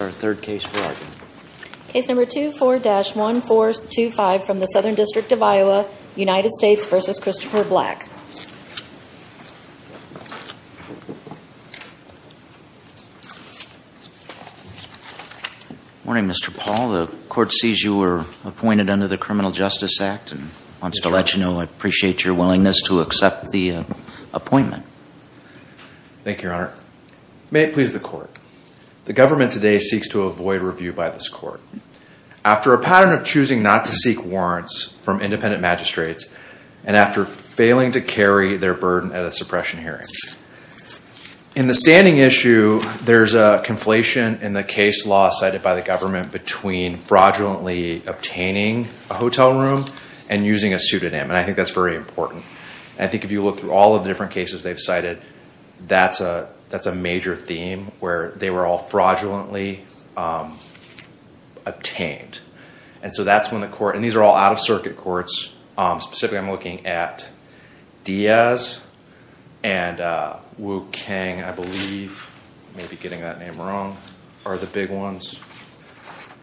Good morning Mr. Paul. The court sees you were appointed under the Criminal Justice Act and wants to let you know I appreciate your willingness to accept the appointment. Thank you your honor. May it please the court. The government today seeks to avoid review by this court after a pattern of choosing not to seek warrants from independent magistrates and after failing to carry their burden at a suppression hearing. In the standing issue there's a conflation in the case law cited by the government between fraudulently obtaining a hotel room and using a pseudonym and I think that's very important. I think if you look through all of the different cases they've cited that's a that's a major theme where they were all fraudulently obtained and so that's when the court and these are all out-of-circuit courts. Specifically I'm looking at Diaz and Wu Kang I believe, maybe getting that name wrong, are the big ones.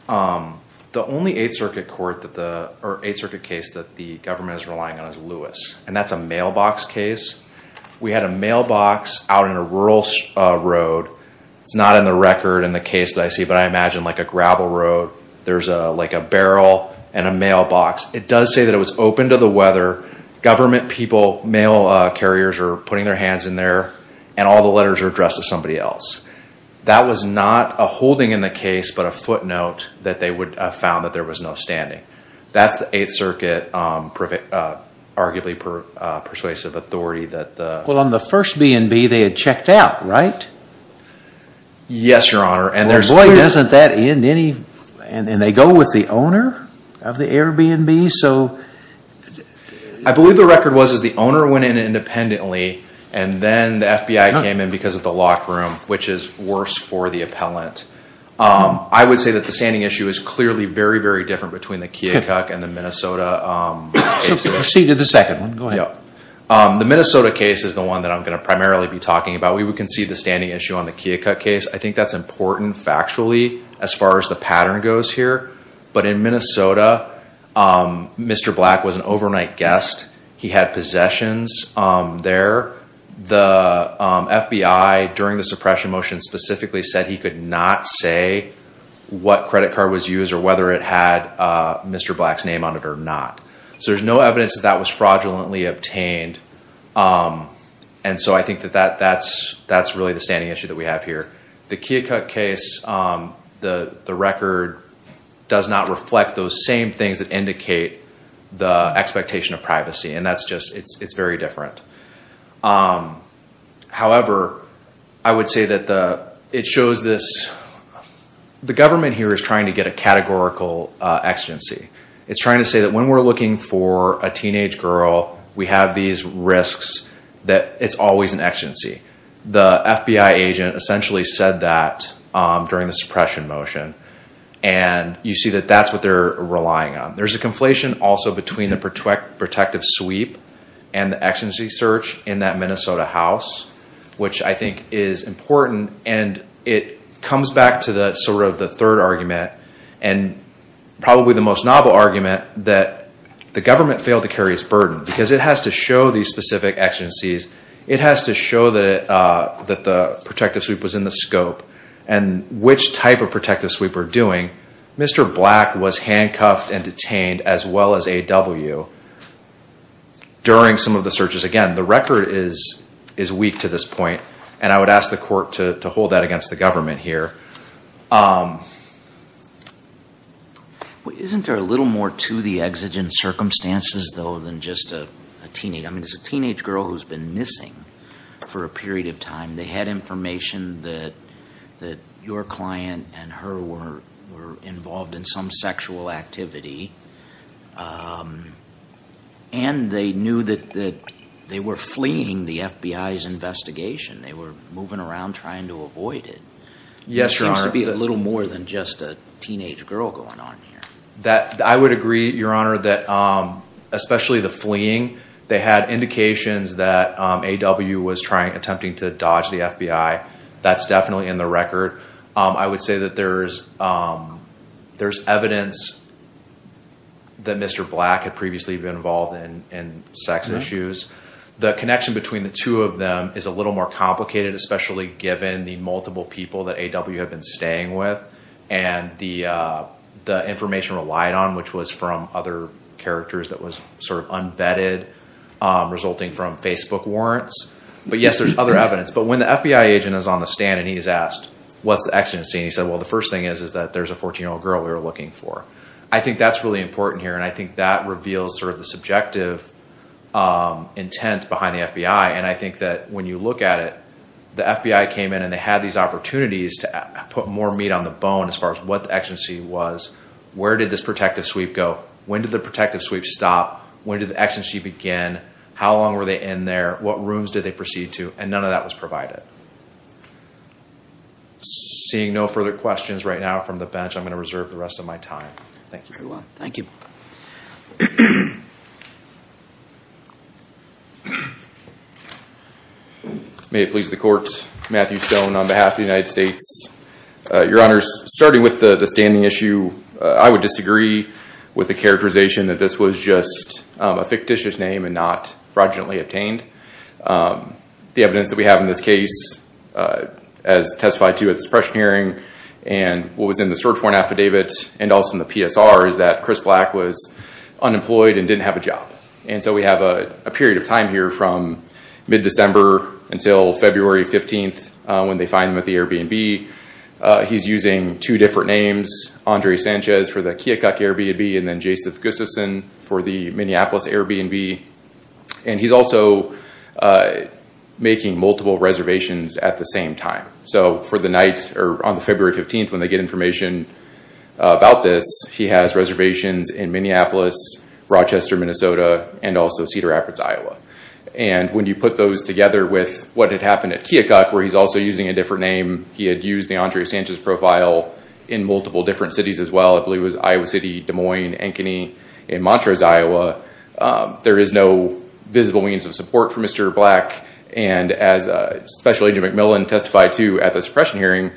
The only 8th Circuit court that the or 8th Circuit case that the government is relying on is Lewis and that's a mailbox case. We had a mailbox out in a rural road, it's not in the record in the case that I see, but I imagine like a gravel road there's a like a barrel and a mailbox. It does say that it was open to the weather. Government people, mail carriers are putting their hands in there and all the letters are addressed to somebody else. That was not a holding in the case but a footnote that they would have found that there was no standing. That's the 8th Circuit persuasive authority. Well on the first B&B they had checked out right? Yes your honor and there's... Boy doesn't that end any... and they go with the owner of the Airbnb so... I believe the record was is the owner went in independently and then the FBI came in because of the lock room which is worse for the appellant. I would say that the standing issue is clearly very very different between the Keokuk and the Minnesota. Proceed to the second one, go ahead. The Minnesota case is the one that I'm going to primarily be talking about. We would concede the standing issue on the Keokuk case. I think that's important factually as far as the pattern goes here. But in Minnesota, Mr. Black was an overnight guest. He had possessions there. The FBI during the suppression motion specifically said he could not say what credit card was used or whether it had Mr. Black's name on it or not. So there's no evidence that that was fraudulently obtained and so I think that that's really the standing issue that we have here. The Keokuk case, the record does not reflect those same things that indicate the expectation of privacy and that's just it's very different. However, I would say that it shows this... the government here is trying to get a categorical exigency. It's trying to say that when we're looking for a teenage girl, we have these risks that it's always an exigency. The FBI agent essentially said that during the suppression motion and you see that that's what they're relying on. There's a conflation also between the protective sweep and the exigency search in that Minnesota house, which I think is important and it comes back to the sort of the third argument and probably the most novel argument that the government failed to carry its burden because it has to show these specific exigencies. It has to show that that the protective sweep was in the scope and which type of protective sweep we're doing. Mr. Black was handcuffed and detained as well as AW during some of the searches. Again, the record is weak to this point and I would ask the court to hold that against the government here. Isn't there a little more to the exigent circumstances though than just a teenage? I mean, it's a teenage girl who's been missing for a period of time. They had information that your client and her were involved in some sexual activity and they knew that they were fleeing the FBI's investigation. They were moving around trying to avoid it. Yes, Your Honor. It seems to be a little more than just a teenage girl going on here. I would agree, Your Honor, that especially the fleeing, they had indications that AW was attempting to dodge the FBI. That's definitely in the record. I would say that there's evidence that Mr. Black had previously been involved in sex issues. The connection between the two of them is a little more complicated, especially given the multiple people that AW have been staying with and the information relied on, which was from other characters that was sort of unvetted, resulting from Facebook warrants. But yes, there's other evidence. But when the FBI agent is on the stand and he's asked, what's the exigency? He said, well, the first thing is that there's a 14-year-old girl we were looking for. I think that's really important here and I think that reveals sort of the subjective intent behind the FBI. I think that when you look at it, the FBI came in and they had these opportunities to put more meat on the bone as far as what the exigency was. Where did this protective sweep go? When did the protective sweep stop? When did the exigency begin? How long were they in there? What rooms did they proceed to? And none of that was provided. Seeing no further questions right now from the bench, I'm going to reserve the rest of my time. Thank you very much. Thank you. May it please the Court, Matthew Stone on behalf of the United States. Your Honors, starting with the standing issue, I would disagree with the characterization that this was just a fictitious name and not fraudulently obtained. The evidence that we have in this case, as testified to at the suppression hearing, and what was in the search warrant affidavit, and also in the PSR, is that Chris Black was unemployed and didn't have a job. And so we have a period of time here from mid-December until February 15th when they find him at the Airbnb. He's using two different names, Andre Sanchez for the Kiokuk Airbnb, and then Jason Gustafson for the Minneapolis Airbnb. And he's also making multiple reservations at the same time. So for the night, or on the February 15th, when they get information about this, he has reservations in Minneapolis, Rochester, Minnesota, and also Cedar Rapids, Iowa. And when you put those together with what had happened at Kiokuk, where he's also using a different name, he had used the Andre Sanchez profile in multiple different cities as well. I believe it was Iowa City, Des Moines, Ankeny, and Montrose, Iowa. There is no visible means of support for Mr. Black. And as Special Agent McMillan testified to at the suppression hearing,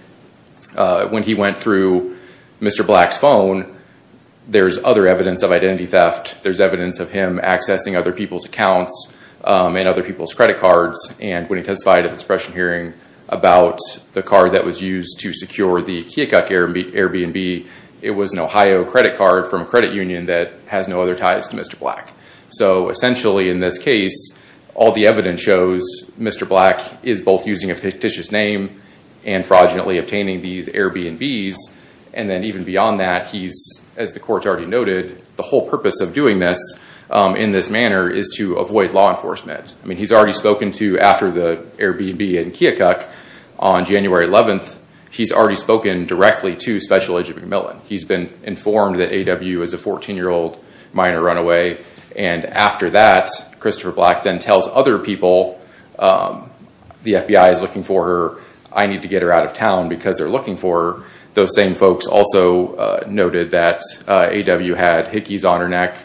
when he went through Mr. Black's phone, there's other evidence of identity theft. There's evidence of him accessing other people's accounts and other people's credit cards. And when he testified at the suppression hearing about the card that was used to secure the Kiokuk Airbnb, it was an Ohio credit card from a credit union that has no other ties to Mr. Black. So essentially in this case, all the evidence shows Mr. Black is both using a fictitious name and fraudulently obtaining these Airbnbs. And then even beyond that, he's, as the courts already noted, the whole purpose of doing this in this manner is to avoid law enforcement. I mean he's already spoken to after the Airbnb in Kiokuk on January 11th. He's already spoken directly to Special Agent McMillan. He's been informed that A.W. is a 14-year-old minor runaway. And after that, Christopher Black then tells other people the FBI is looking for her. I need to get her out of town because they're looking for her. Those same folks also noted that A.W. had hickeys on her neck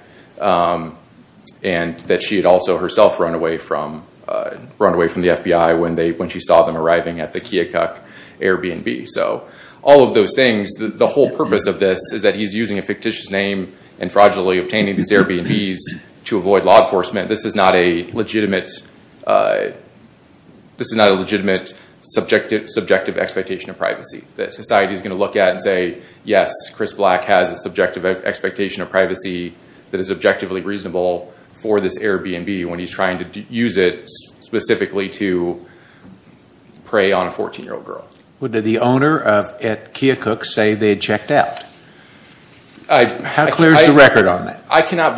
and that she had also herself run away from the FBI when she saw them arriving at the Kiokuk Airbnb. So all of those things, the whole purpose of this is that he's using a fictitious name and fraudulently obtaining these Airbnbs to avoid law enforcement. This is not a legitimate subjective expectation of privacy that society is going to look at and say, yes, Chris Black has a subjective expectation of privacy that is objectively reasonable for this Airbnb when he's going to use it specifically to prey on a 14-year-old girl. Did the owner at Kiokuk say they checked out? How clear is the record on that? I cannot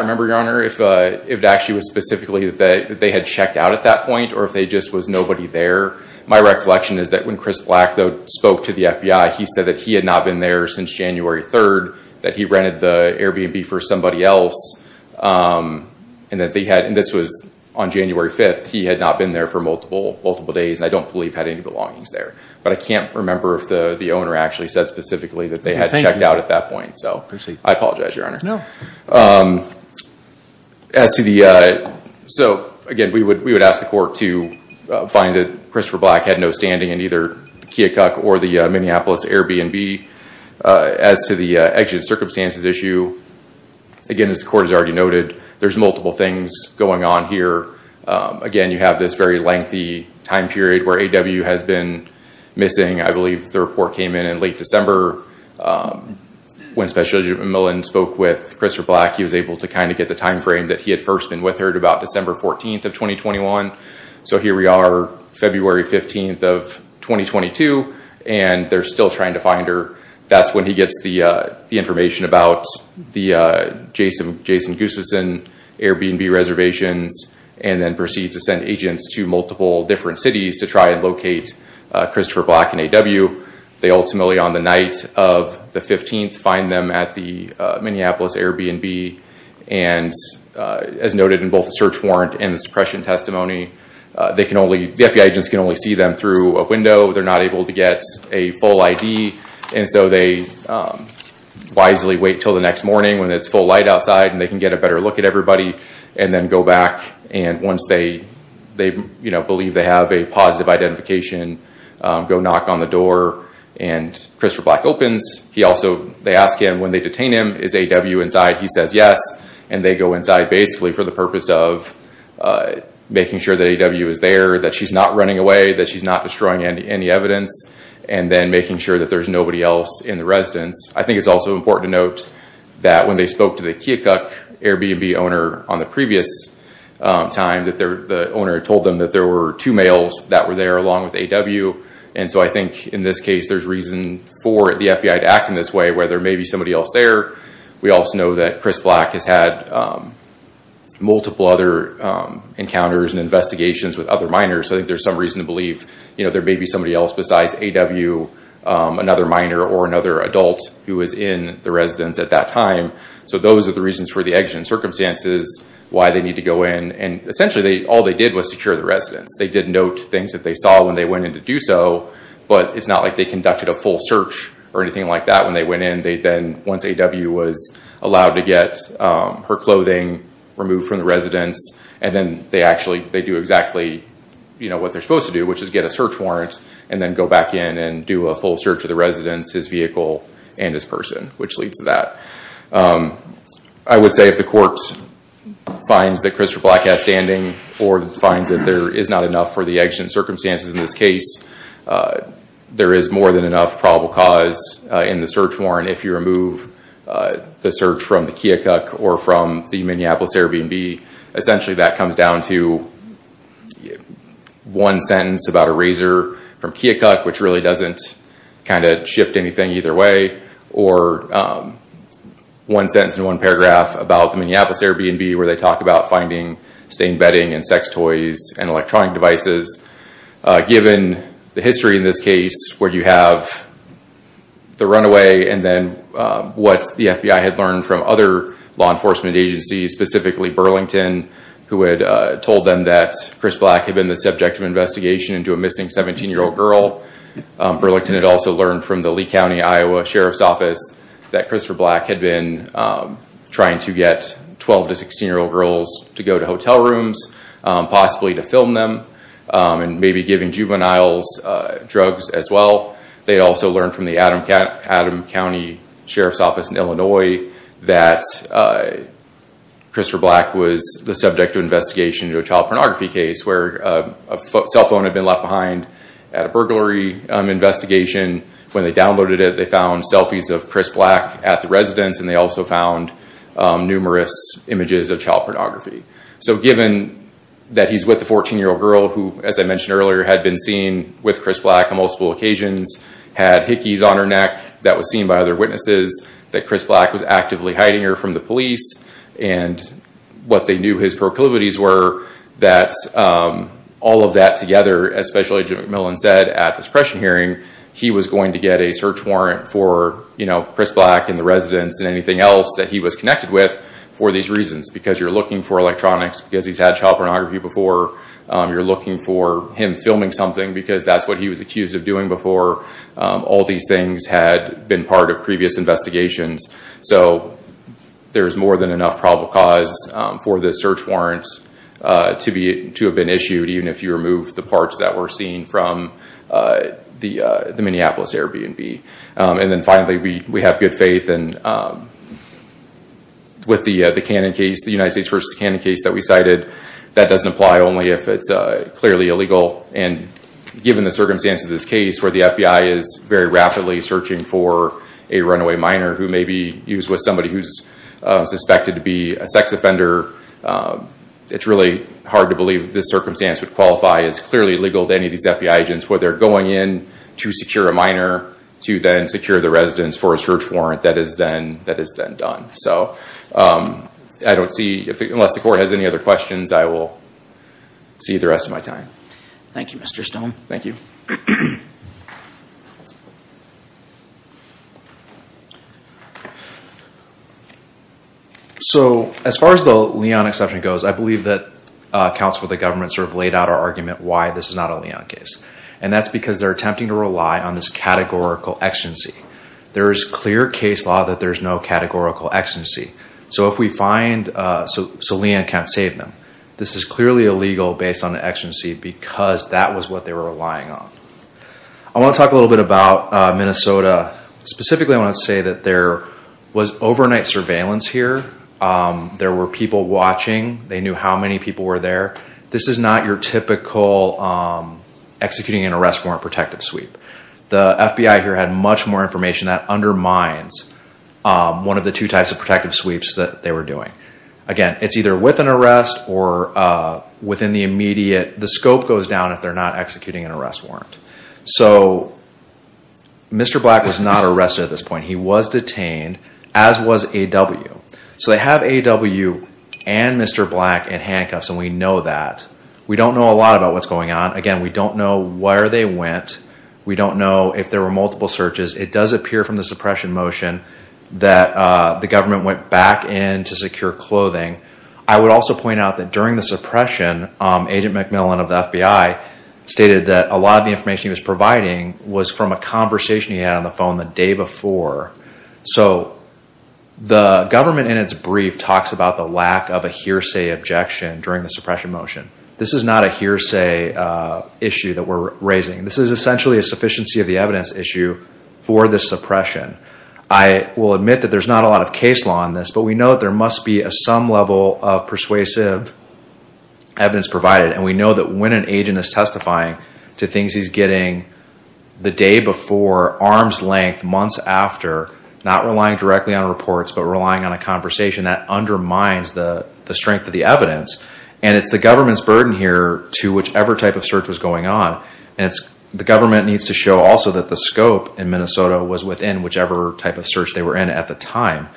remember, Your Honor, if it actually was specifically that they had checked out at that point or if there just was nobody there. My recollection is that when Chris Black spoke to the FBI, he said that he had not been there since January 3rd, that he rented the Airbnb for somebody else, and that they had, and this was on January 5th, he had not been there for multiple days and I don't believe had any belongings there. But I can't remember if the the owner actually said specifically that they had checked out at that point. So I apologize, Your Honor. So again, we would ask the court to find that Christopher Black had no standing in either the Kiokuk or the Minneapolis Airbnb. As to the actual circumstances issue, again, as the court has already noted, there's multiple things going on here. Again, you have this very lengthy time period where A.W. has been missing. I believe the report came in in late December when Special Agent McMillan spoke with Christopher Black. He was able to kind of get the time frame that he had first been with her at about December 14th of 2021. So here we are, February 15th of 2022, and they're still trying to find her. That's when he gets the information about the Jason Gustafson Airbnb reservations, and then proceeds to send agents to multiple different cities to try and locate Christopher Black and A.W. They ultimately, on the night of the 15th, find them at the Minneapolis Airbnb. And as noted in both the search warrant and the suppression testimony, the FBI agents can only see them through a window. They're not able to get a full ID, and so they wisely wait till the next morning when it's full light outside, and they can get a better look at everybody, and then go back. And once they believe they have a positive identification, go knock on the door, and Christopher Black opens. They ask him when they detain him, is A.W. inside? He says yes, and they go inside basically for the purpose of making sure that A.W. is there, that she's not running away, that she's not destroying any evidence, and then making sure that there's nobody else in the residence. I think it's also important to note that when they spoke to the Keokuk Airbnb owner on the previous time, that the owner told them that there were two males that were there along with A.W., and so I think in this case there's reason for the FBI to act in this way, where there may be somebody else there. We also know that Chris Black has had multiple other encounters and investigations with other minors, so I think there's some reason to believe, you know, there may be somebody else besides A.W., another minor, or another adult who was in the residence at that time. So those are the reasons for the exit and circumstances, why they need to go in, and essentially all they did was secure the residence. They did note things that they saw when they went in to do so, but it's not like they conducted a full search or anything like that when they went in. They then, once A.W. was allowed to get her clothing removed from the residence, and then they actually they do exactly, you know, what they're supposed to do, which is get a search warrant, and then go back in and do a full search of the residence, his vehicle, and his person, which leads to that. I would say if the court finds that Chris Black has standing, or finds that there is not enough for the exit and circumstances in this case, there is more than enough probable cause in the search warrant if you remove the search from the Keokuk or from the Minneapolis Airbnb. Essentially that comes down to one sentence about a razor from Keokuk, which really doesn't kind of shift anything either way, or one sentence in one paragraph about the Minneapolis Airbnb, where they talk about finding stained bedding and sex toys and electronic devices. Given the history in this case, where you have the runaway and then what the FBI had learned from other law enforcement agencies, specifically Burlington, who had told them that Chris Black had been the subject of investigation into a missing 17-year-old girl. Burlington had also learned from the Lee County, Iowa Sheriff's Office that Christopher Black had been trying to get 12 to 16-year-old girls to go to hotel rooms, possibly to film them, and maybe giving juveniles drugs as well. They also learned from the Adam County Sheriff's Office in Illinois that Christopher Black was the subject of investigation into a child pornography case, where a cell phone had been left behind at a burglary investigation. When they downloaded it, they found selfies of Chris Black at the residence and they also found numerous images of child pornography. So given that he's with the 14-year-old girl, who as I mentioned earlier, had been seen with Chris Black on multiple occasions, had hickeys on her weaknesses, that Chris Black was actively hiding her from the police, and what they knew his proclivities were, that all of that together, as Special Agent McMillan said at this pressure hearing, he was going to get a search warrant for, you know, Chris Black and the residents and anything else that he was connected with for these reasons. Because you're looking for electronics, because he's had child pornography before, you're looking for him filming something because that's what he was accused of doing before. All these things had been part of previous investigations. So there's more than enough probable cause for the search warrants to have been issued, even if you remove the parts that were seen from the the Minneapolis Airbnb. And then finally, we have good faith and with the Canon case, the United States versus Canon case that we cited, that doesn't apply only if it's clearly illegal. And given the circumstances of the case where the FBI is very rapidly searching for a runaway minor who may be used with somebody who's suspected to be a sex offender, it's really hard to believe this circumstance would qualify as clearly illegal to any of these FBI agents where they're going in to secure a minor to then secure the residents for a search warrant that is then done. So I don't see, unless the court has any other questions, I will see the rest of my time. Thank you, Mr. Stone. Thank you. So as far as the Leon exception goes, I believe that counsel of the government sort of laid out our argument why this is not a Leon case. And that's because they're attempting to rely on this categorical exigency. There is clear case law that there's no categorical exigency. So if we find, so Leon can't save them. This is clearly illegal based on the exigency because that was what they were relying on. I want to talk a little bit about Minnesota. Specifically, I want to say that there was overnight surveillance here. There were people watching. They knew how many people were there. This is not your typical executing an arrest warrant protective sweep. The FBI here had much more information that undermines one of the two types of protective sweeps that they were doing. Again, it's either with an arrest or within the immediate, the scope goes down if they're not executing an arrest warrant. So Mr. Black was not arrested at this point. He was detained, as was AW. So they have AW and Mr. Black in handcuffs and we know that. We don't know a lot about what's going on. Again, we don't know where they went. We don't know if there were multiple searches. It does appear from the suppression motion that the government went back in to secure clothing. I would also point out that during the suppression, Agent McMillan of the FBI stated that a lot of the information he was providing was from a conversation he had on the phone the day before. So the government in its brief talks about the lack of a hearsay objection during the suppression motion. This is not a hearsay issue that we're raising. This is essentially a sufficiency of the evidence issue for the suppression. I will admit that there's not a lot of case law on this, but we know there must be some level of persuasive evidence provided. And we know that when an agent is testifying to things he's getting the day before, arm's length, months after, not relying directly on reports but relying on a conversation, that undermines the strength of the evidence. And it's the government's burden here to whichever type of search was going on. The government needs to show also that the scope in Minnesota was within whichever type of search they were in at the time.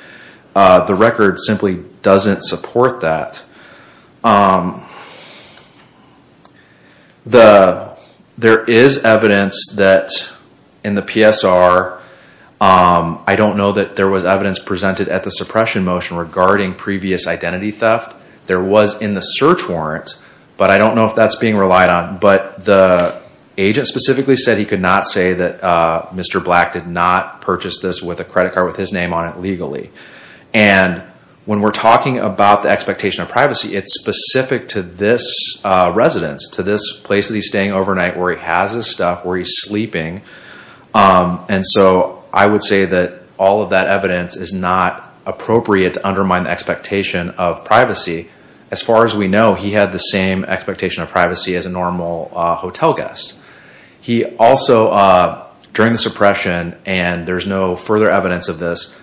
The record simply doesn't support that. There is evidence that in the PSR, I don't know that there was evidence presented at the suppression motion regarding previous identity theft. There was in the search warrant, but I don't know if that's being relied on. But the agent specifically said he could not say that Mr. Black did not purchase this with a credit card with his name on it legally. And when we're talking about the expectation of privacy, it's specific to this residence, to this place that he's staying overnight where he has his stuff, where he's sleeping. And so I would say that all of that evidence is not appropriate to undermine the expectation of privacy. As far as we know, he had the same expectation of privacy as a normal hotel guest. He also, during the suppression, and there's no further evidence of this,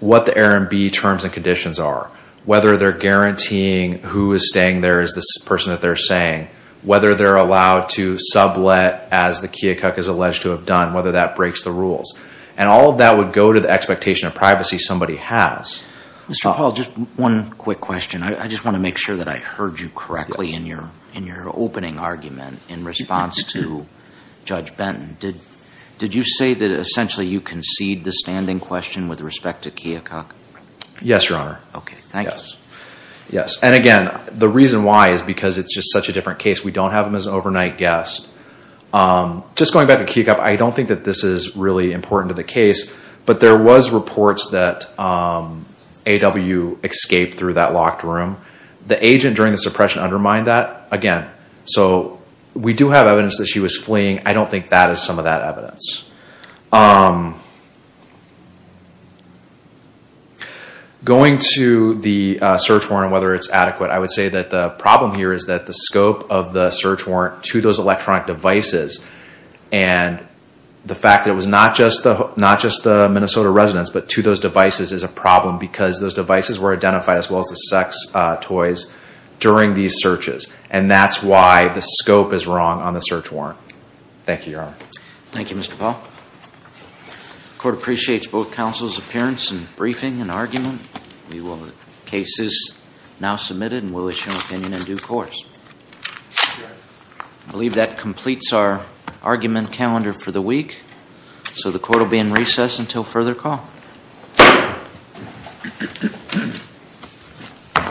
what the R&B terms and conditions are. Whether they're guaranteeing who is staying there is the person that they're saying. Whether they're allowed to sublet as the Keokuk is alleged to have done, whether that breaks the rules. And all of that would go to the expectation of privacy somebody has. Mr. Paul, just one quick question. I just want to make sure that I heard you correctly in your opening argument in response to Judge Benton. Did you say that essentially you concede the standing question with respect to Keokuk? Yes, Your Honor. Okay, thank you. Yes. And again, the reason why is because it's just such a different case. We don't have him as an overnight guest. Just going back to Keokuk, I don't think that this is really important to the case, but there was reports that AW escaped through that locked room. The agent during the suppression undermined that. Again, so we do have evidence that she was fleeing. I don't think that is some of that evidence. Going to the search warrant and whether it's adequate, I would say that the problem here is that the scope of the search warrant to those electronic devices and the fact that it was not just the Minnesota residents, but to those devices is a problem because those devices were identified as well as the sex toys during these searches. And that's why the scope is wrong on the search warrant. Thank you, Your Honor. Thank you, Mr. Paul. The court appreciates both counsel's appearance and briefing and argument. The case is now submitted and we'll issue an opinion in due course. I believe that completes our argument calendar for the week. So the court will be in recess until further call.